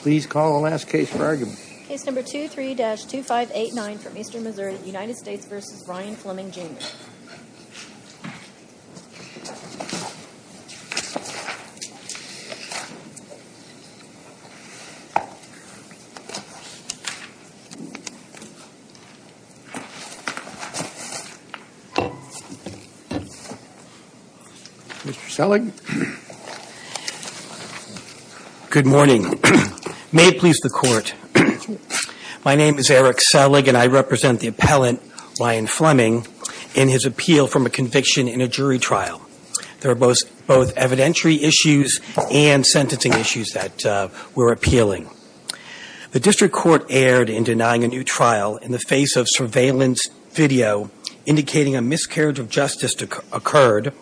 Please call the last case for argument. Case number 23-2589 from Eastern Missouri, United States v. Ryan Fleming, Jr. Mr. Selig? Good morning. May it please the Court, my name is Eric Selig, and I represent the appellant, Ryan Fleming, in his appeal from a conviction in a jury trial. There are both evidentiary issues and sentencing issues that we're appealing. The district court erred in denying a new trial in the face of surveillance video indicating a miscarriage of justice occurred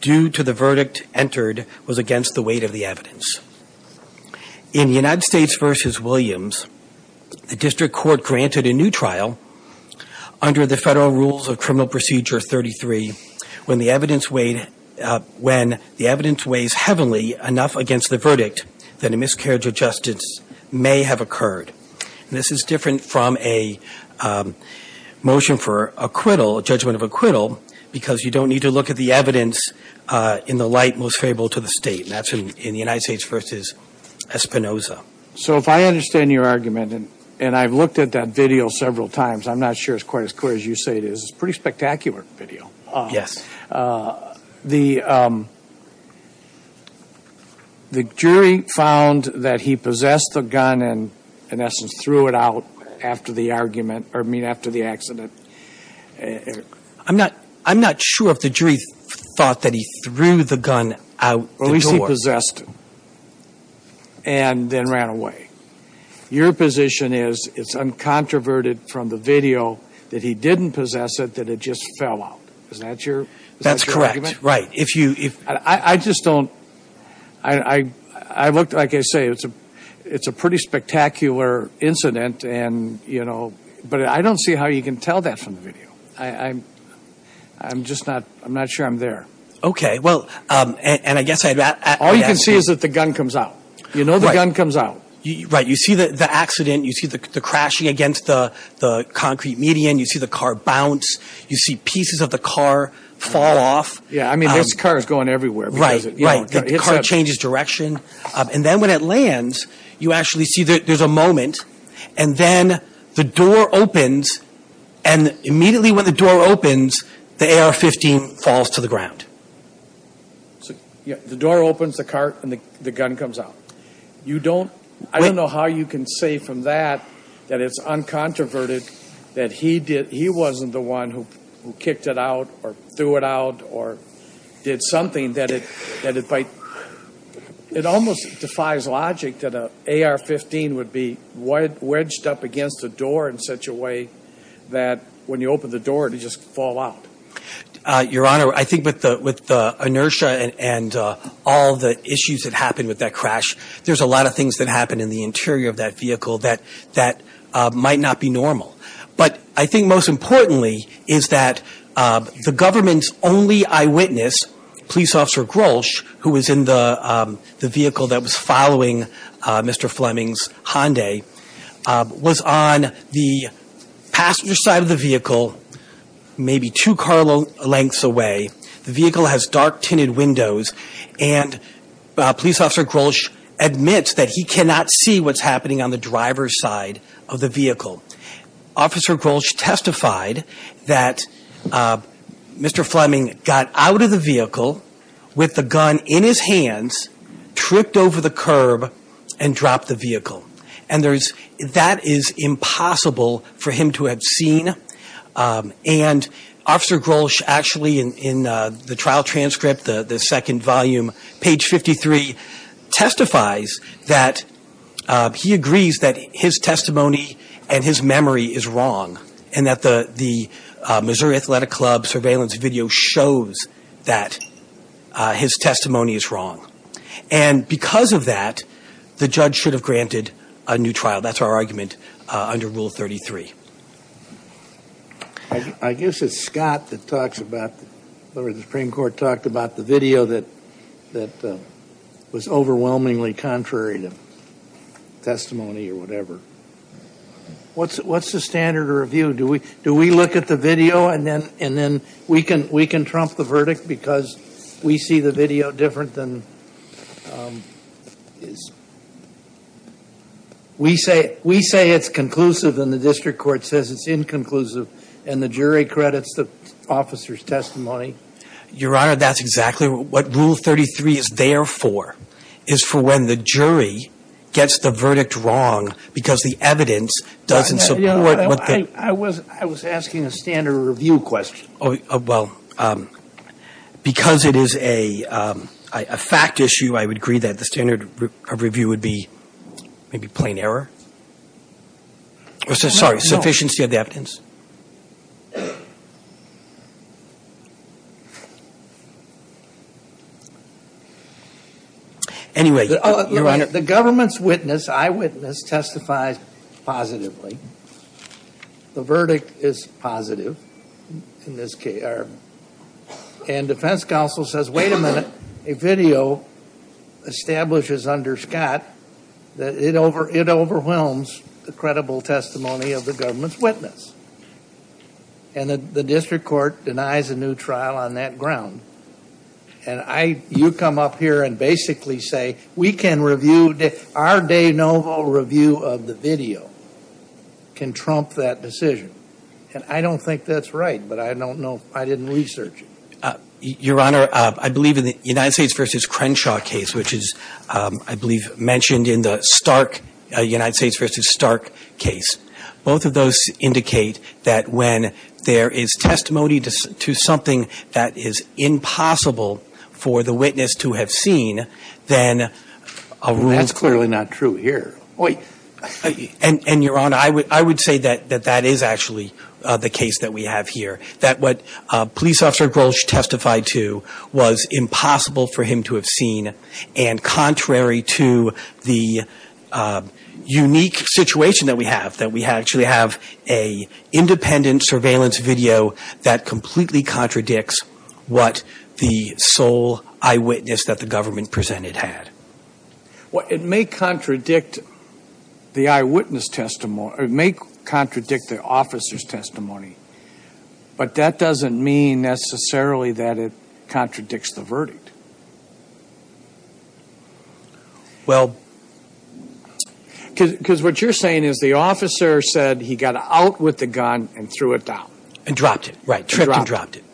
due to the verdict entered was against the weight of the evidence. In the United States v. Williams, the district court granted a new trial under the Federal Rules of Criminal Procedure 33 when the evidence weighed – when the evidence weighs heavily enough against the verdict that a miscarriage of justice may have occurred. And this is different from a motion for acquittal, a judgment of acquittal, because you don't need to look at the evidence in the light most favorable to the State. And that's in the United States v. Espinoza. So if I understand your argument, and I've looked at that video several times, I'm not sure it's quite as clear as you say it is. It's a pretty spectacular video. Yes. The jury found that he possessed the gun and, in essence, threw it out after the argument – or, I mean, after the accident. I'm not sure if the jury thought that he threw the gun out the door. Or at least he possessed it and then ran away. Your position is it's uncontroverted from the video that he didn't possess it, that it just fell out. Is that your – is that your argument? That's correct. Right. I just don't – I looked – like I say, it's a pretty spectacular incident and, you know – but I don't see how you can tell that from the video. I'm just not – I'm not sure I'm there. Okay. Well, and I guess I – All you can see is that the gun comes out. Right. You know the gun comes out. Right. You see the accident. You see the crashing against the concrete median. You see the car bounce. You see pieces of the car fall off. Yeah. I mean, this car is going everywhere. Right. Right. The car changes direction. And then when it lands, you actually see there's a moment. And then the door opens. And immediately when the door opens, the AR-15 falls to the ground. The door opens, the car – and the gun comes out. You don't – I don't know how you can say from that that it's uncontroverted, that he wasn't the one who kicked it out or threw it out or did something that it might – it almost defies logic that an AR-15 would be wedged up against a door in such a way that when you open the door, it would just fall out. Your Honor, I think with the inertia and all the issues that happened with that crash, there's a lot of things that happened in the interior of that vehicle that might not be normal. But I think most importantly is that the government's only eyewitness, Police Officer Grolsch, who was in the vehicle that was following Mr. Fleming's Hyundai, was on the passenger side of the vehicle, maybe two car lengths away. The vehicle has dark tinted windows. And Police Officer Grolsch admits that he cannot see what's happening on the driver's side of the vehicle. Officer Grolsch testified that Mr. Fleming got out of the vehicle with the gun in his hands, tripped over the curb, and dropped the vehicle. And there's – that is impossible for him to have seen. And Officer Grolsch actually in the trial transcript, the second volume, page 53, he testifies that he agrees that his testimony and his memory is wrong and that the Missouri Athletic Club surveillance video shows that his testimony is wrong. And because of that, the judge should have granted a new trial. That's our argument under Rule 33. I guess it's Scott that talks about – the Supreme Court talked about the video that was overwhelmingly contrary to testimony or whatever. What's the standard of review? Do we look at the video and then we can trump the verdict because we see the video different than – We say it's conclusive and the district court says it's inconclusive and the jury credits the officer's testimony. Your Honor, that's exactly what Rule 33 is there for, is for when the jury gets the verdict wrong because the evidence doesn't support what the – I was asking a standard of review question. Oh, well, because it is a fact issue, I would agree that the standard of review would be maybe plain error. Sorry, sufficiency of the evidence. Anyway, Your Honor. The government's witness, eyewitness, testifies positively. The verdict is positive. And defense counsel says, wait a minute. A video establishes under Scott that it overwhelms the credible testimony of the government's witness. And the district court denies a new trial on that ground. And you come up here and basically say we can review – our de novo review of the video can trump that decision. And I don't think that's right, but I don't know. I didn't research it. Your Honor, I believe in the United States v. Crenshaw case, which is, I believe, mentioned in the Stark, United States v. Stark case, both of those indicate that when there is testimony to something that is impossible for the witness to have seen, then a rule – That's clearly not true here. And, Your Honor, I would say that that is actually the case that we have here, that what Police Officer Grolsch testified to was impossible for him to have seen. And contrary to the unique situation that we have, that we actually have an independent surveillance video that completely contradicts what the sole eyewitness that the government presented had. Well, it may contradict the eyewitness testimony. But that doesn't mean necessarily that it contradicts the verdict. Well – Because what you're saying is the officer said he got out with the gun and threw it down. And dropped it. Right. And tripped and dropped it.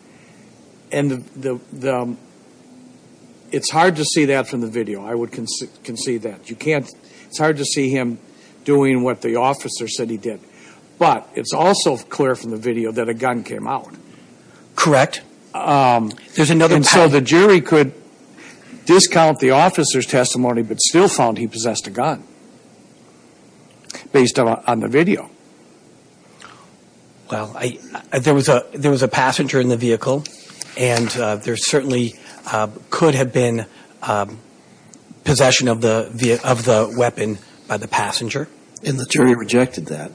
And the – it's hard to see that from the video. I would concede that. You can't – it's hard to see him doing what the officer said he did. But it's also clear from the video that a gun came out. Correct. There's another – And so the jury could discount the officer's testimony but still found he possessed a gun. Based on the video. Well, there was a passenger in the vehicle. And there certainly could have been possession of the weapon by the passenger. And the jury rejected that.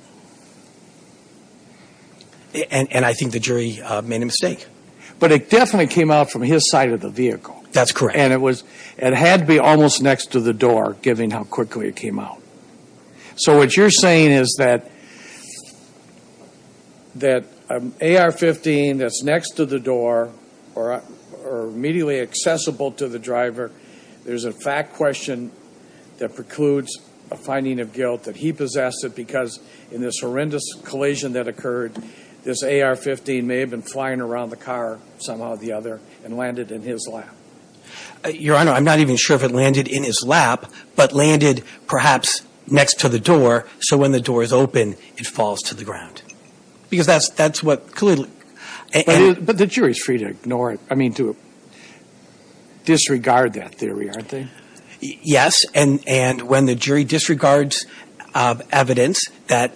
And I think the jury made a mistake. But it definitely came out from his side of the vehicle. That's correct. And it was – it had to be almost next to the door, given how quickly it came out. So what you're saying is that an AR-15 that's next to the door or immediately accessible to the driver, there's a fact question that precludes a finding of guilt that he possessed it because in this horrendous collision that occurred, this AR-15 may have been flying around the car somehow or the other and landed in his lap. Your Honor, I'm not even sure if it landed in his lap but landed perhaps next to the door so when the door is open it falls to the ground. Because that's what clearly – But the jury's free to ignore – I mean to disregard that theory, aren't they? Yes. And when the jury disregards evidence that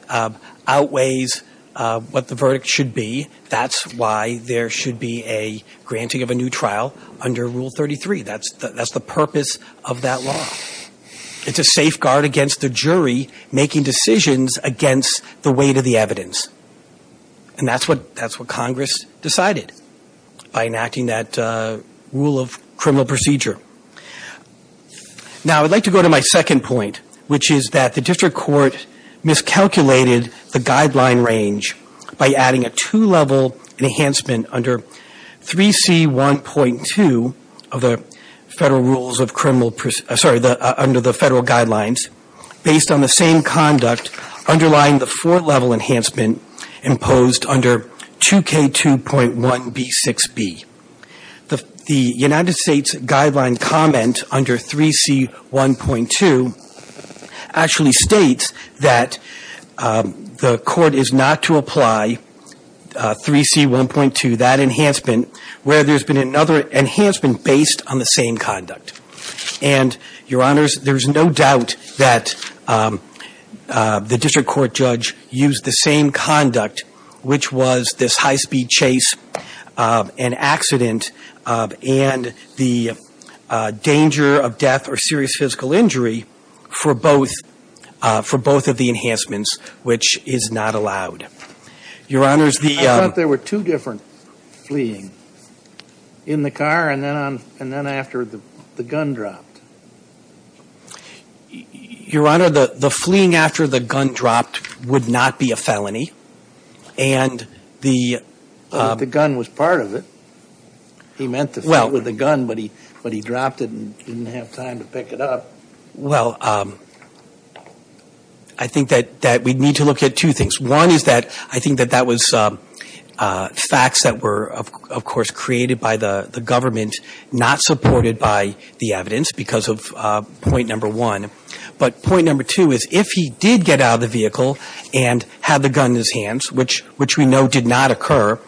outweighs what the verdict should be, that's why there should be a granting of a new trial under Rule 33. That's the purpose of that law. It's a safeguard against the jury making decisions against the weight of the evidence. And that's what Congress decided by enacting that rule of criminal procedure. Now, I'd like to go to my second point, which is that the district court miscalculated the guideline range by adding a two-level enhancement under 3C1.2 of the Federal Rules of Criminal – sorry, under the Federal Guidelines based on the same conduct underlying the four-level enhancement imposed under 2K2.1b6b. The United States guideline comment under 3C1.2 actually states that the Court is not to apply 3C1.2, that enhancement, where there's been another enhancement based on the same conduct. And, Your Honors, there's no doubt that the district court judge used the same conduct, which was this high-speed chase and accident and the danger of death or serious physical injury for both of the enhancements, which is not allowed. Your Honors, the – I thought there were two different fleeing, in the car and then after the gun dropped. Your Honor, the fleeing after the gun dropped would not be a felony. And the – But the gun was part of it. He meant to flee with the gun, but he dropped it and didn't have time to pick it up. Well, I think that we need to look at two things. One is that I think that that was facts that were, of course, created by the government, not supported by the evidence because of point number one. But point number two is if he did get out of the vehicle and had the gun in his hands, which we know did not occur,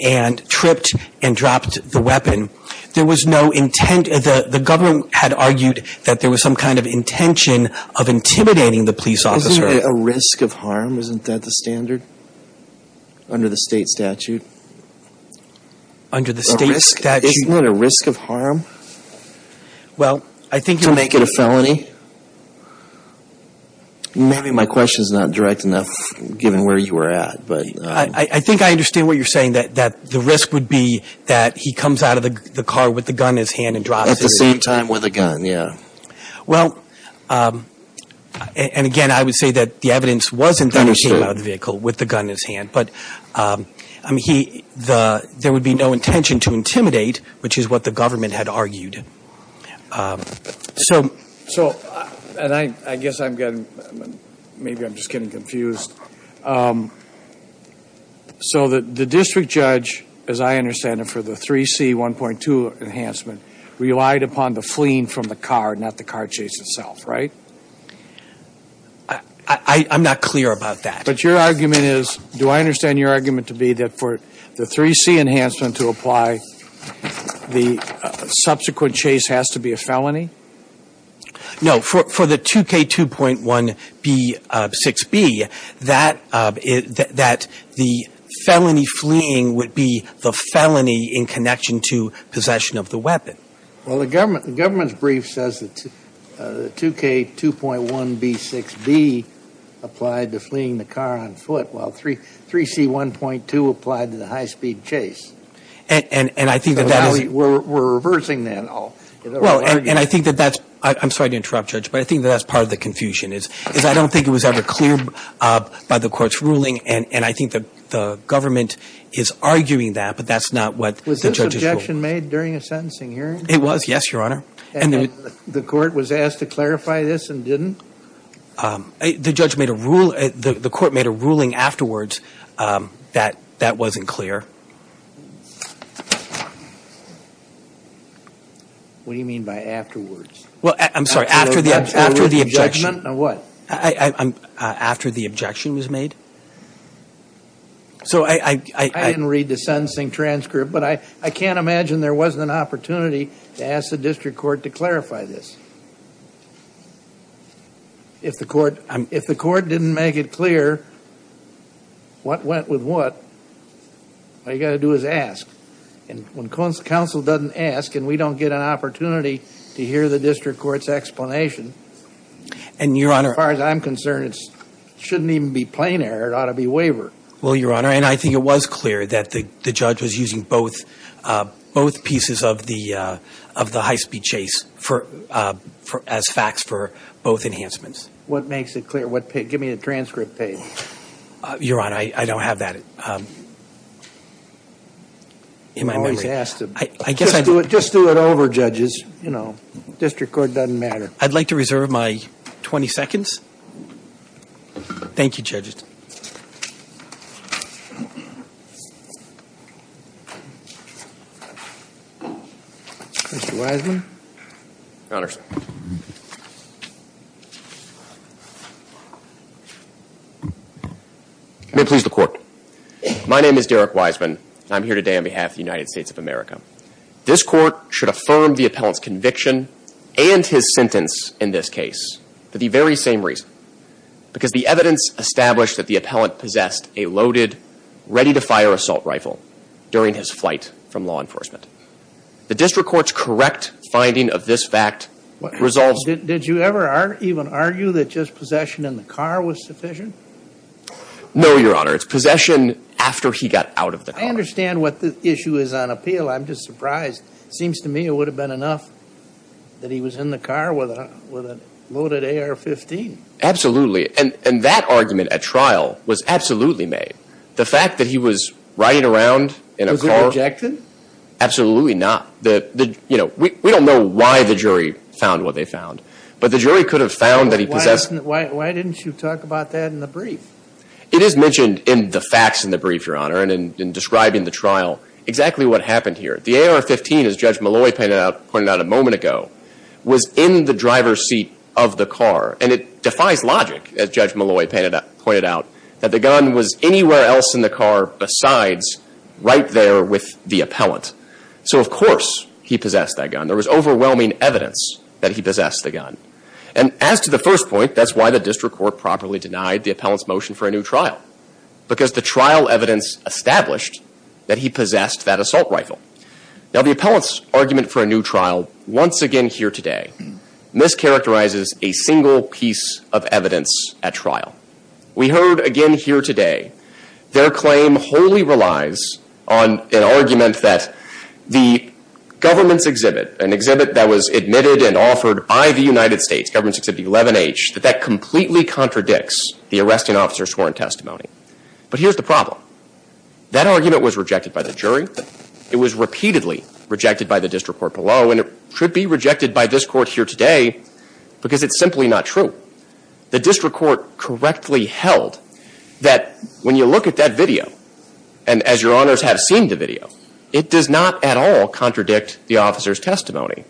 and tripped and dropped the weapon, there was no intent – the government had argued that there was some kind of intention of intimidating the police officer. Isn't there a risk of harm? Isn't that the standard under the State statute? Under the State statute? Isn't there a risk of harm to make it a felony? Maybe my question is not direct enough, given where you were at. I think I understand what you're saying, that the risk would be that he comes out of the car with the gun in his hand and drops it. At the same time with a gun, yeah. Well, and again, I would say that the evidence wasn't that he came out of the vehicle with the gun in his hand. But there would be no intention to intimidate, which is what the government had argued. So – and I guess I'm getting – maybe I'm just getting confused. So the district judge, as I understand it, for the 3C 1.2 enhancement relied upon the fleeing from the car, not the car chase itself, right? I'm not clear about that. But your argument is – do I understand your argument to be that for the 3C enhancement to apply, the subsequent chase has to be a felony? No. For the 2K2.1b6b, that the felony fleeing would be the felony in connection to possession of the weapon. Well, the government's brief says that the 2K2.1b6b applied to fleeing the car on foot, while 3C 1.2 applied to the high-speed chase. And I think that that is – We're reversing that. Well, and I think that that's – I'm sorry to interrupt, Judge, but I think that that's part of the confusion, is I don't think it was ever clear by the court's ruling, and I think that the government is arguing that, but that's not what the judge has ruled. Was the objection made during a sentencing hearing? It was, yes, Your Honor. And the court was asked to clarify this and didn't? The judge made a rule – the court made a ruling afterwards that that wasn't clear. What do you mean by afterwards? Well, I'm sorry, after the objection. After the objection, a what? After the objection was made. So I – I didn't read the sentencing transcript, but I can't imagine there wasn't an opportunity to ask the district court to clarify this. If the court didn't make it clear what went with what, all you've got to do is ask. And when counsel doesn't ask and we don't get an opportunity to hear the district court's explanation – And, Your Honor – As far as I'm concerned, it shouldn't even be plain error. It ought to be waiver. Well, Your Honor, and I think it was clear that the judge was using both pieces of the high-speed chase as facts for both enhancements. What makes it clear? Give me the transcript page. Your Honor, I don't have that in my memory. I'm always asked to. Just do it over, judges. You know, district court doesn't matter. I'd like to reserve my 20 seconds. Thank you, judges. Mr. Wiseman. Your Honor. May it please the Court. My name is Derek Wiseman. I'm here today on behalf of the United States of America. This court should affirm the appellant's conviction and his sentence in this case for the very same reason. Because the evidence established that the appellant possessed a loaded, ready-to-fire assault rifle during his flight from law enforcement. The district court's correct finding of this fact resolves – Did you ever even argue that just possession in the car was sufficient? No, Your Honor. It's possession after he got out of the car. I understand what the issue is on appeal. I'm just surprised. It seems to me it would have been enough that he was in the car with a loaded AR-15. Absolutely. And that argument at trial was absolutely made. The fact that he was riding around in a car – Was it objected? Absolutely not. You know, we don't know why the jury found what they found. But the jury could have found that he possessed – Why didn't you talk about that in the brief? It is mentioned in the facts in the brief, Your Honor, and in describing the trial, exactly what happened here. The AR-15, as Judge Malloy pointed out a moment ago, was in the driver's seat of the car. And it defies logic, as Judge Malloy pointed out, that the gun was anywhere else in the car besides right there with the appellant. So, of course, he possessed that gun. And as to the first point, that's why the district court properly denied the appellant's motion for a new trial. Because the trial evidence established that he possessed that assault rifle. Now, the appellant's argument for a new trial, once again here today, mischaracterizes a single piece of evidence at trial. We heard, again here today, their claim wholly relies on an argument that the government's exhibit, an exhibit that was admitted and offered by the United States, Government's Exhibit 11H, that that completely contradicts the arresting officer's sworn testimony. But here's the problem. That argument was rejected by the jury. It was repeatedly rejected by the district court below. And it should be rejected by this court here today because it's simply not true. The district court correctly held that when you look at that video, and as Your Honors have seen the video, it does not at all contradict the officer's testimony.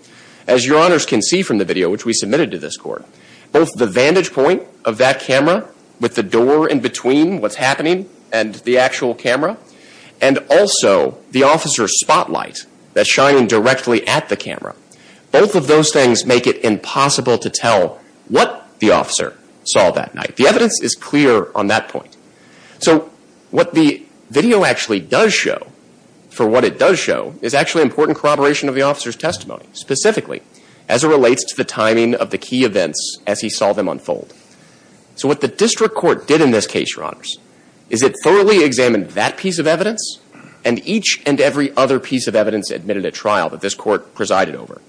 As Your Honors can see from the video, which we submitted to this court, both the vantage point of that camera with the door in between what's happening and the actual camera, and also the officer's spotlight that's shining directly at the camera, both of those things make it impossible to tell what the officer saw that night. The evidence is clear on that point. So what the video actually does show, for what it does show, is actually important corroboration of the officer's testimony, specifically as it relates to the timing of the key events as he saw them unfold. So what the district court did in this case, Your Honors, is it thoroughly examined that piece of evidence and each and every other piece of evidence admitted at trial that this court presided over,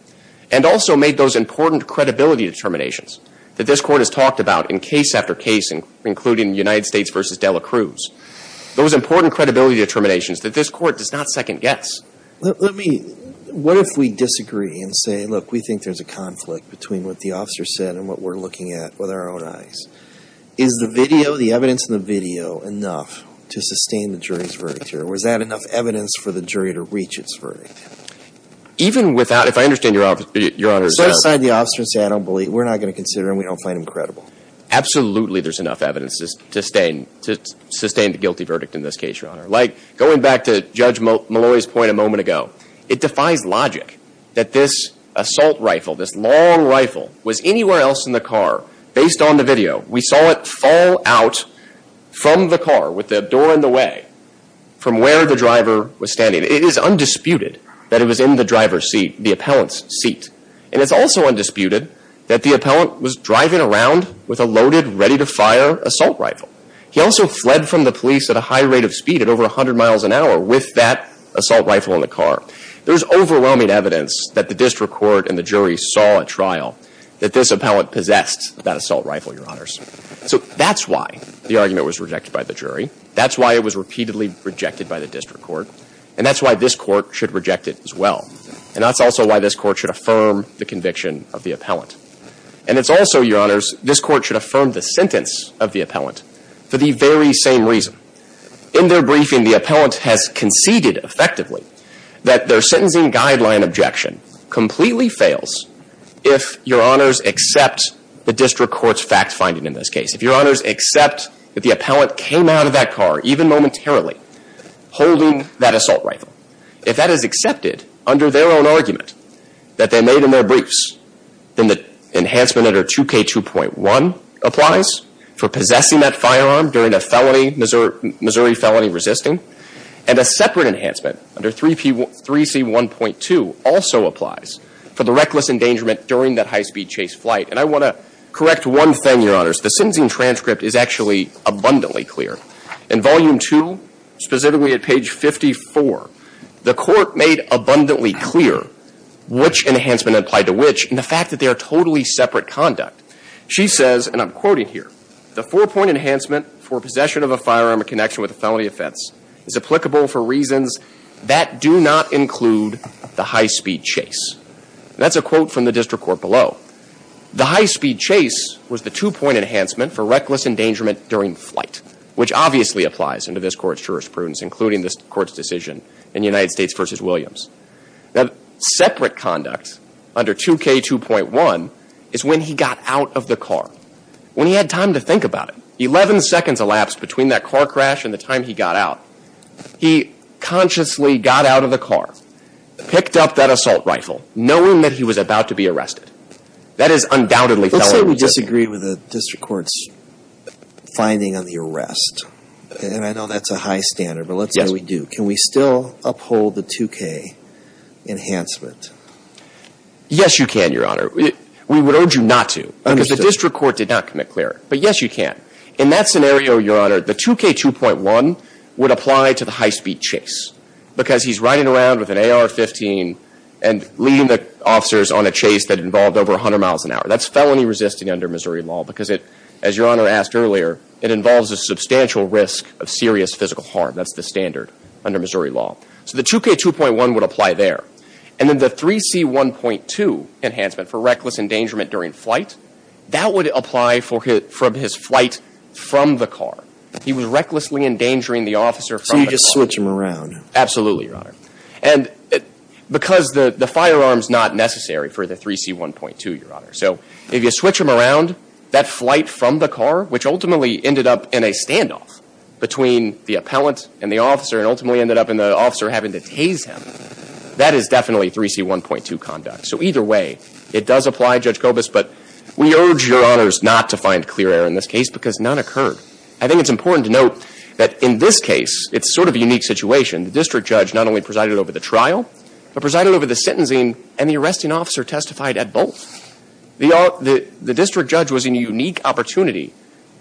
and also made those important credibility determinations that this court has talked about in case after case, including United States v. Dela Cruz, those important credibility determinations that this court does not second guess. Let me, what if we disagree and say, look, we think there's a conflict between what the officer said and what we're looking at with our own eyes? Is the video, the evidence in the video, enough to sustain the jury's verdict here, or is that enough evidence for the jury to reach its verdict? Even without, if I understand Your Honors, Let's go inside the officer and say, I don't believe, we're not going to consider him, we don't find him credible. Absolutely there's enough evidence to sustain the guilty verdict in this case, Your Honor. Like, going back to Judge Malloy's point a moment ago, it defies logic that this assault rifle, this long rifle, was anywhere else in the car. Based on the video, we saw it fall out from the car, with the door in the way, from where the driver was standing. It is undisputed that it was in the driver's seat, the appellant's seat. And it's also undisputed that the appellant was driving around with a loaded, ready-to-fire assault rifle. He also fled from the police at a high rate of speed at over 100 miles an hour with that assault rifle in the car. There's overwhelming evidence that the district court and the jury saw at trial that this appellant possessed that assault rifle, Your Honors. So that's why the argument was rejected by the jury. That's why it was repeatedly rejected by the district court. And that's why this court should reject it as well. And that's also why this court should affirm the conviction of the appellant. And it's also, Your Honors, this court should affirm the sentence of the appellant for the very same reason. In their briefing, the appellant has conceded, effectively, that their sentencing guideline objection completely fails if Your Honors accept the district court's fact-finding in this case. If Your Honors accept that the appellant came out of that car, even momentarily, holding that assault rifle, if that is accepted under their own argument that they made in their briefs, then the enhancement under 2K2.1 applies for possessing that firearm during a felony, Missouri felony resisting. And a separate enhancement under 3C1.2 also applies for the reckless endangerment during that high-speed chase flight. And I want to correct one thing, Your Honors. The sentencing transcript is actually abundantly clear. In Volume 2, specifically at page 54, the court made abundantly clear which enhancement applied to which and the fact that they are totally separate conduct. She says, and I'm quoting here, the four-point enhancement for possession of a firearm in connection with a felony offense is applicable for reasons that do not include the high-speed chase. That's a quote from the district court below. The high-speed chase was the two-point enhancement for reckless endangerment during flight, which obviously applies under this Court's jurisprudence, including this Court's decision in United States v. Williams. Now, separate conduct under 2K2.1 is when he got out of the car, when he had time to think about it. Eleven seconds elapsed between that car crash and the time he got out. He consciously got out of the car, picked up that assault rifle, knowing that he was about to be arrested. That is undoubtedly felony resisting. Let's say we disagree with the district court's finding on the arrest, and I know that's a high standard, but let's say we do. Can we still uphold the 2K enhancement? Yes, you can, Your Honor. We would urge you not to because the district court did not commit cleric, but yes, you can. In that scenario, Your Honor, the 2K2.1 would apply to the high-speed chase because he's riding around with an AR-15 and leading the officers on a chase that involved over 100 miles an hour. That's felony resisting under Missouri law because it, as Your Honor asked earlier, it involves a substantial risk of serious physical harm. That's the standard under Missouri law. So the 2K2.1 would apply there. And then the 3C1.2 enhancement for reckless endangerment during flight, that would apply from his flight from the car. He was recklessly endangering the officer from the car. So you just switch him around. Absolutely, Your Honor. And because the firearm is not necessary for the 3C1.2, Your Honor. So if you switch him around, that flight from the car, which ultimately ended up in a standoff between the appellant and the officer and ultimately ended up in the officer having to tase him, that is definitely 3C1.2 conduct. So either way, it does apply, Judge Kobus, but we urge Your Honors not to find clear error in this case because none occurred. I think it's important to note that in this case, it's sort of a unique situation. The district judge not only presided over the trial, but presided over the sentencing and the arresting officer testified at both. The district judge was in a unique opportunity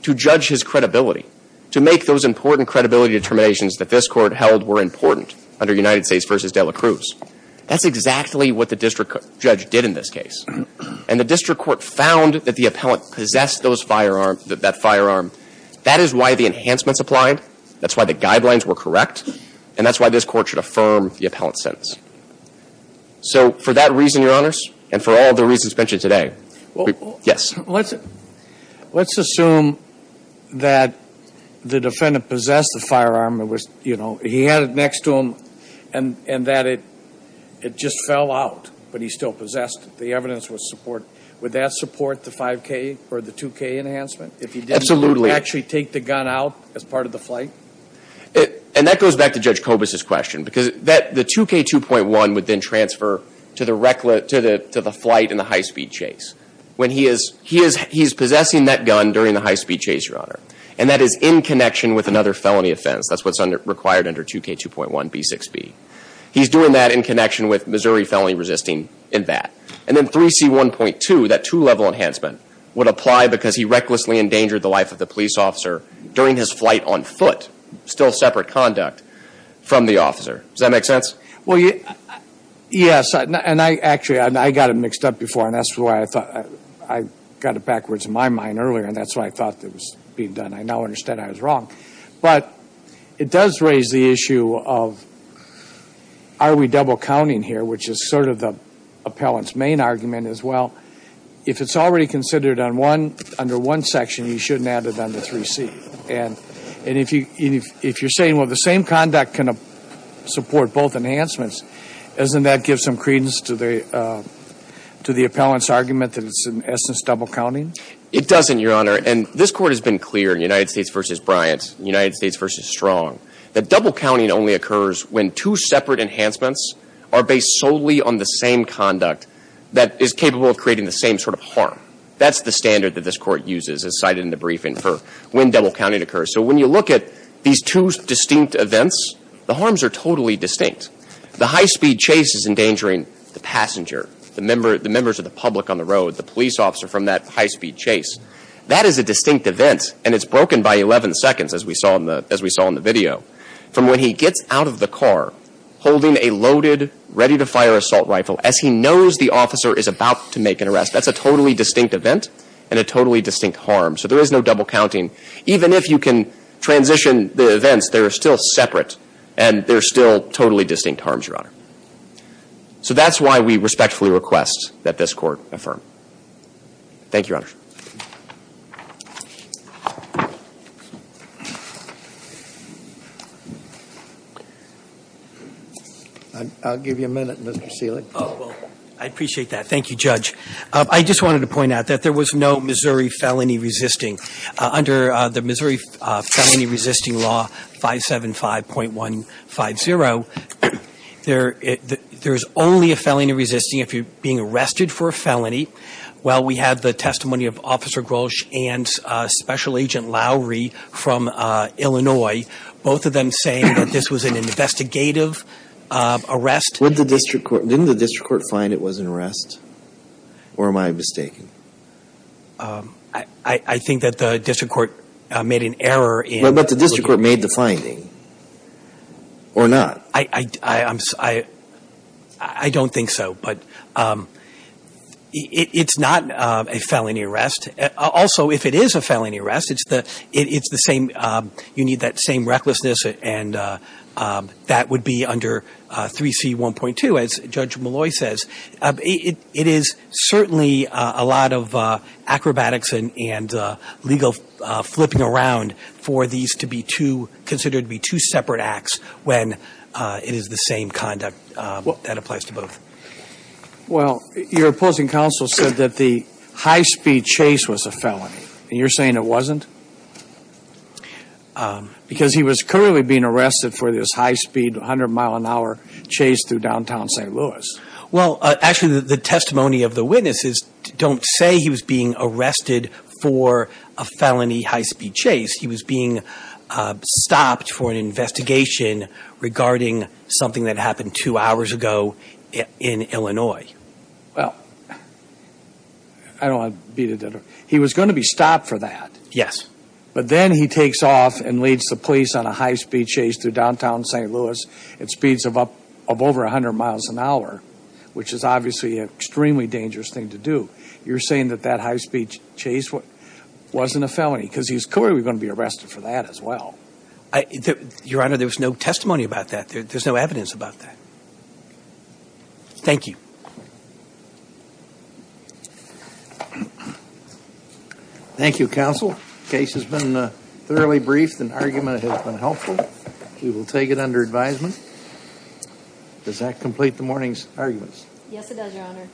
to judge his credibility, to make those important credibility determinations that this court held were important under United States v. De La Cruz. That's exactly what the district judge did in this case. And the district court found that the appellant possessed that firearm. That is why the enhancements applied. That's why the guidelines were correct. And that's why this court should affirm the appellant's sentence. So for that reason, Your Honors, and for all the reasons mentioned today, yes. Let's assume that the defendant possessed the firearm. He had it next to him and that it just fell out, but he still possessed it. The evidence was supported. Would that support the 5K or the 2K enhancement? Absolutely. If he didn't actually take the gun out as part of the flight? And that goes back to Judge Kobus' question, because the 2K2.1 would then transfer to the flight and the high-speed chase. He is possessing that gun during the high-speed chase, Your Honor, and that is in connection with another felony offense. That's what's required under 2K2.1b6b. He's doing that in connection with Missouri felony resisting in that. And then 3C1.2, that two-level enhancement, would apply because he recklessly endangered the life of the police officer during his flight on foot, still separate conduct from the officer. Does that make sense? Well, yes, and actually I got it mixed up before, and that's why I thought I got it backwards in my mind earlier, and that's why I thought it was being done. I now understand I was wrong. But it does raise the issue of are we double counting here, which is sort of the appellant's main argument as well. If it's already considered under one section, you shouldn't add it under 3C. And if you're saying, well, the same conduct can support both enhancements, doesn't that give some credence to the appellant's argument that it's in essence double counting? It doesn't, Your Honor, and this Court has been clear in United States v. Bryant, United States v. Strong, that double counting only occurs when two separate enhancements are based solely on the same conduct that is capable of creating the same sort of harm. That's the standard that this Court uses, as cited in the briefing, for when double counting occurs. So when you look at these two distinct events, the harms are totally distinct. The high-speed chase is endangering the passenger, the members of the public on the road, the police officer from that high-speed chase. That is a distinct event, and it's broken by 11 seconds, as we saw in the video, from when he gets out of the car holding a loaded, ready-to-fire assault rifle as he knows the officer is about to make an arrest. That's a totally distinct event and a totally distinct harm. So there is no double counting. Even if you can transition the events, they're still separate, and they're still totally distinct harms, Your Honor. So that's why we respectfully request that this Court affirm. Thank you, Your Honor. I'll give you a minute, Mr. Selig. Oh, well, I appreciate that. Thank you, Judge. I just wanted to point out that there was no Missouri felony resisting. Under the Missouri felony resisting law 575.150, there is only a felony resisting if you're being arrested for a felony. Well, we have the testimony of Officer Grosch and Special Agent Lowery from Illinois, both of them saying that this was an investigative arrest. Didn't the district court find it was an arrest, or am I mistaken? I think that the district court made an error in looking at it. But the district court made the finding, or not? I don't think so. But it's not a felony arrest. Also, if it is a felony arrest, it's the same, you need that same recklessness, and that would be under 3C.1.2, as Judge Malloy says. It is certainly a lot of acrobatics and legal flipping around for these to be two, and there should be two separate acts when it is the same conduct. That applies to both. Well, your opposing counsel said that the high-speed chase was a felony, and you're saying it wasn't? Because he was clearly being arrested for this high-speed, 100-mile-an-hour chase through downtown St. Louis. Well, actually, the testimony of the witnesses don't say he was being arrested for a felony high-speed chase. He was being stopped for an investigation regarding something that happened two hours ago in Illinois. Well, I don't want to beat about the bush. He was going to be stopped for that. Yes. But then he takes off and leads the police on a high-speed chase through downtown St. Louis at speeds of over 100 miles an hour, which is obviously an extremely dangerous thing to do. You're saying that that high-speed chase wasn't a felony because he was clearly going to be arrested for that as well. Your Honor, there was no testimony about that. There's no evidence about that. Thank you. Thank you, counsel. Case has been thoroughly briefed and argument has been helpful. We will take it under advisement. Yes, it does, Your Honor.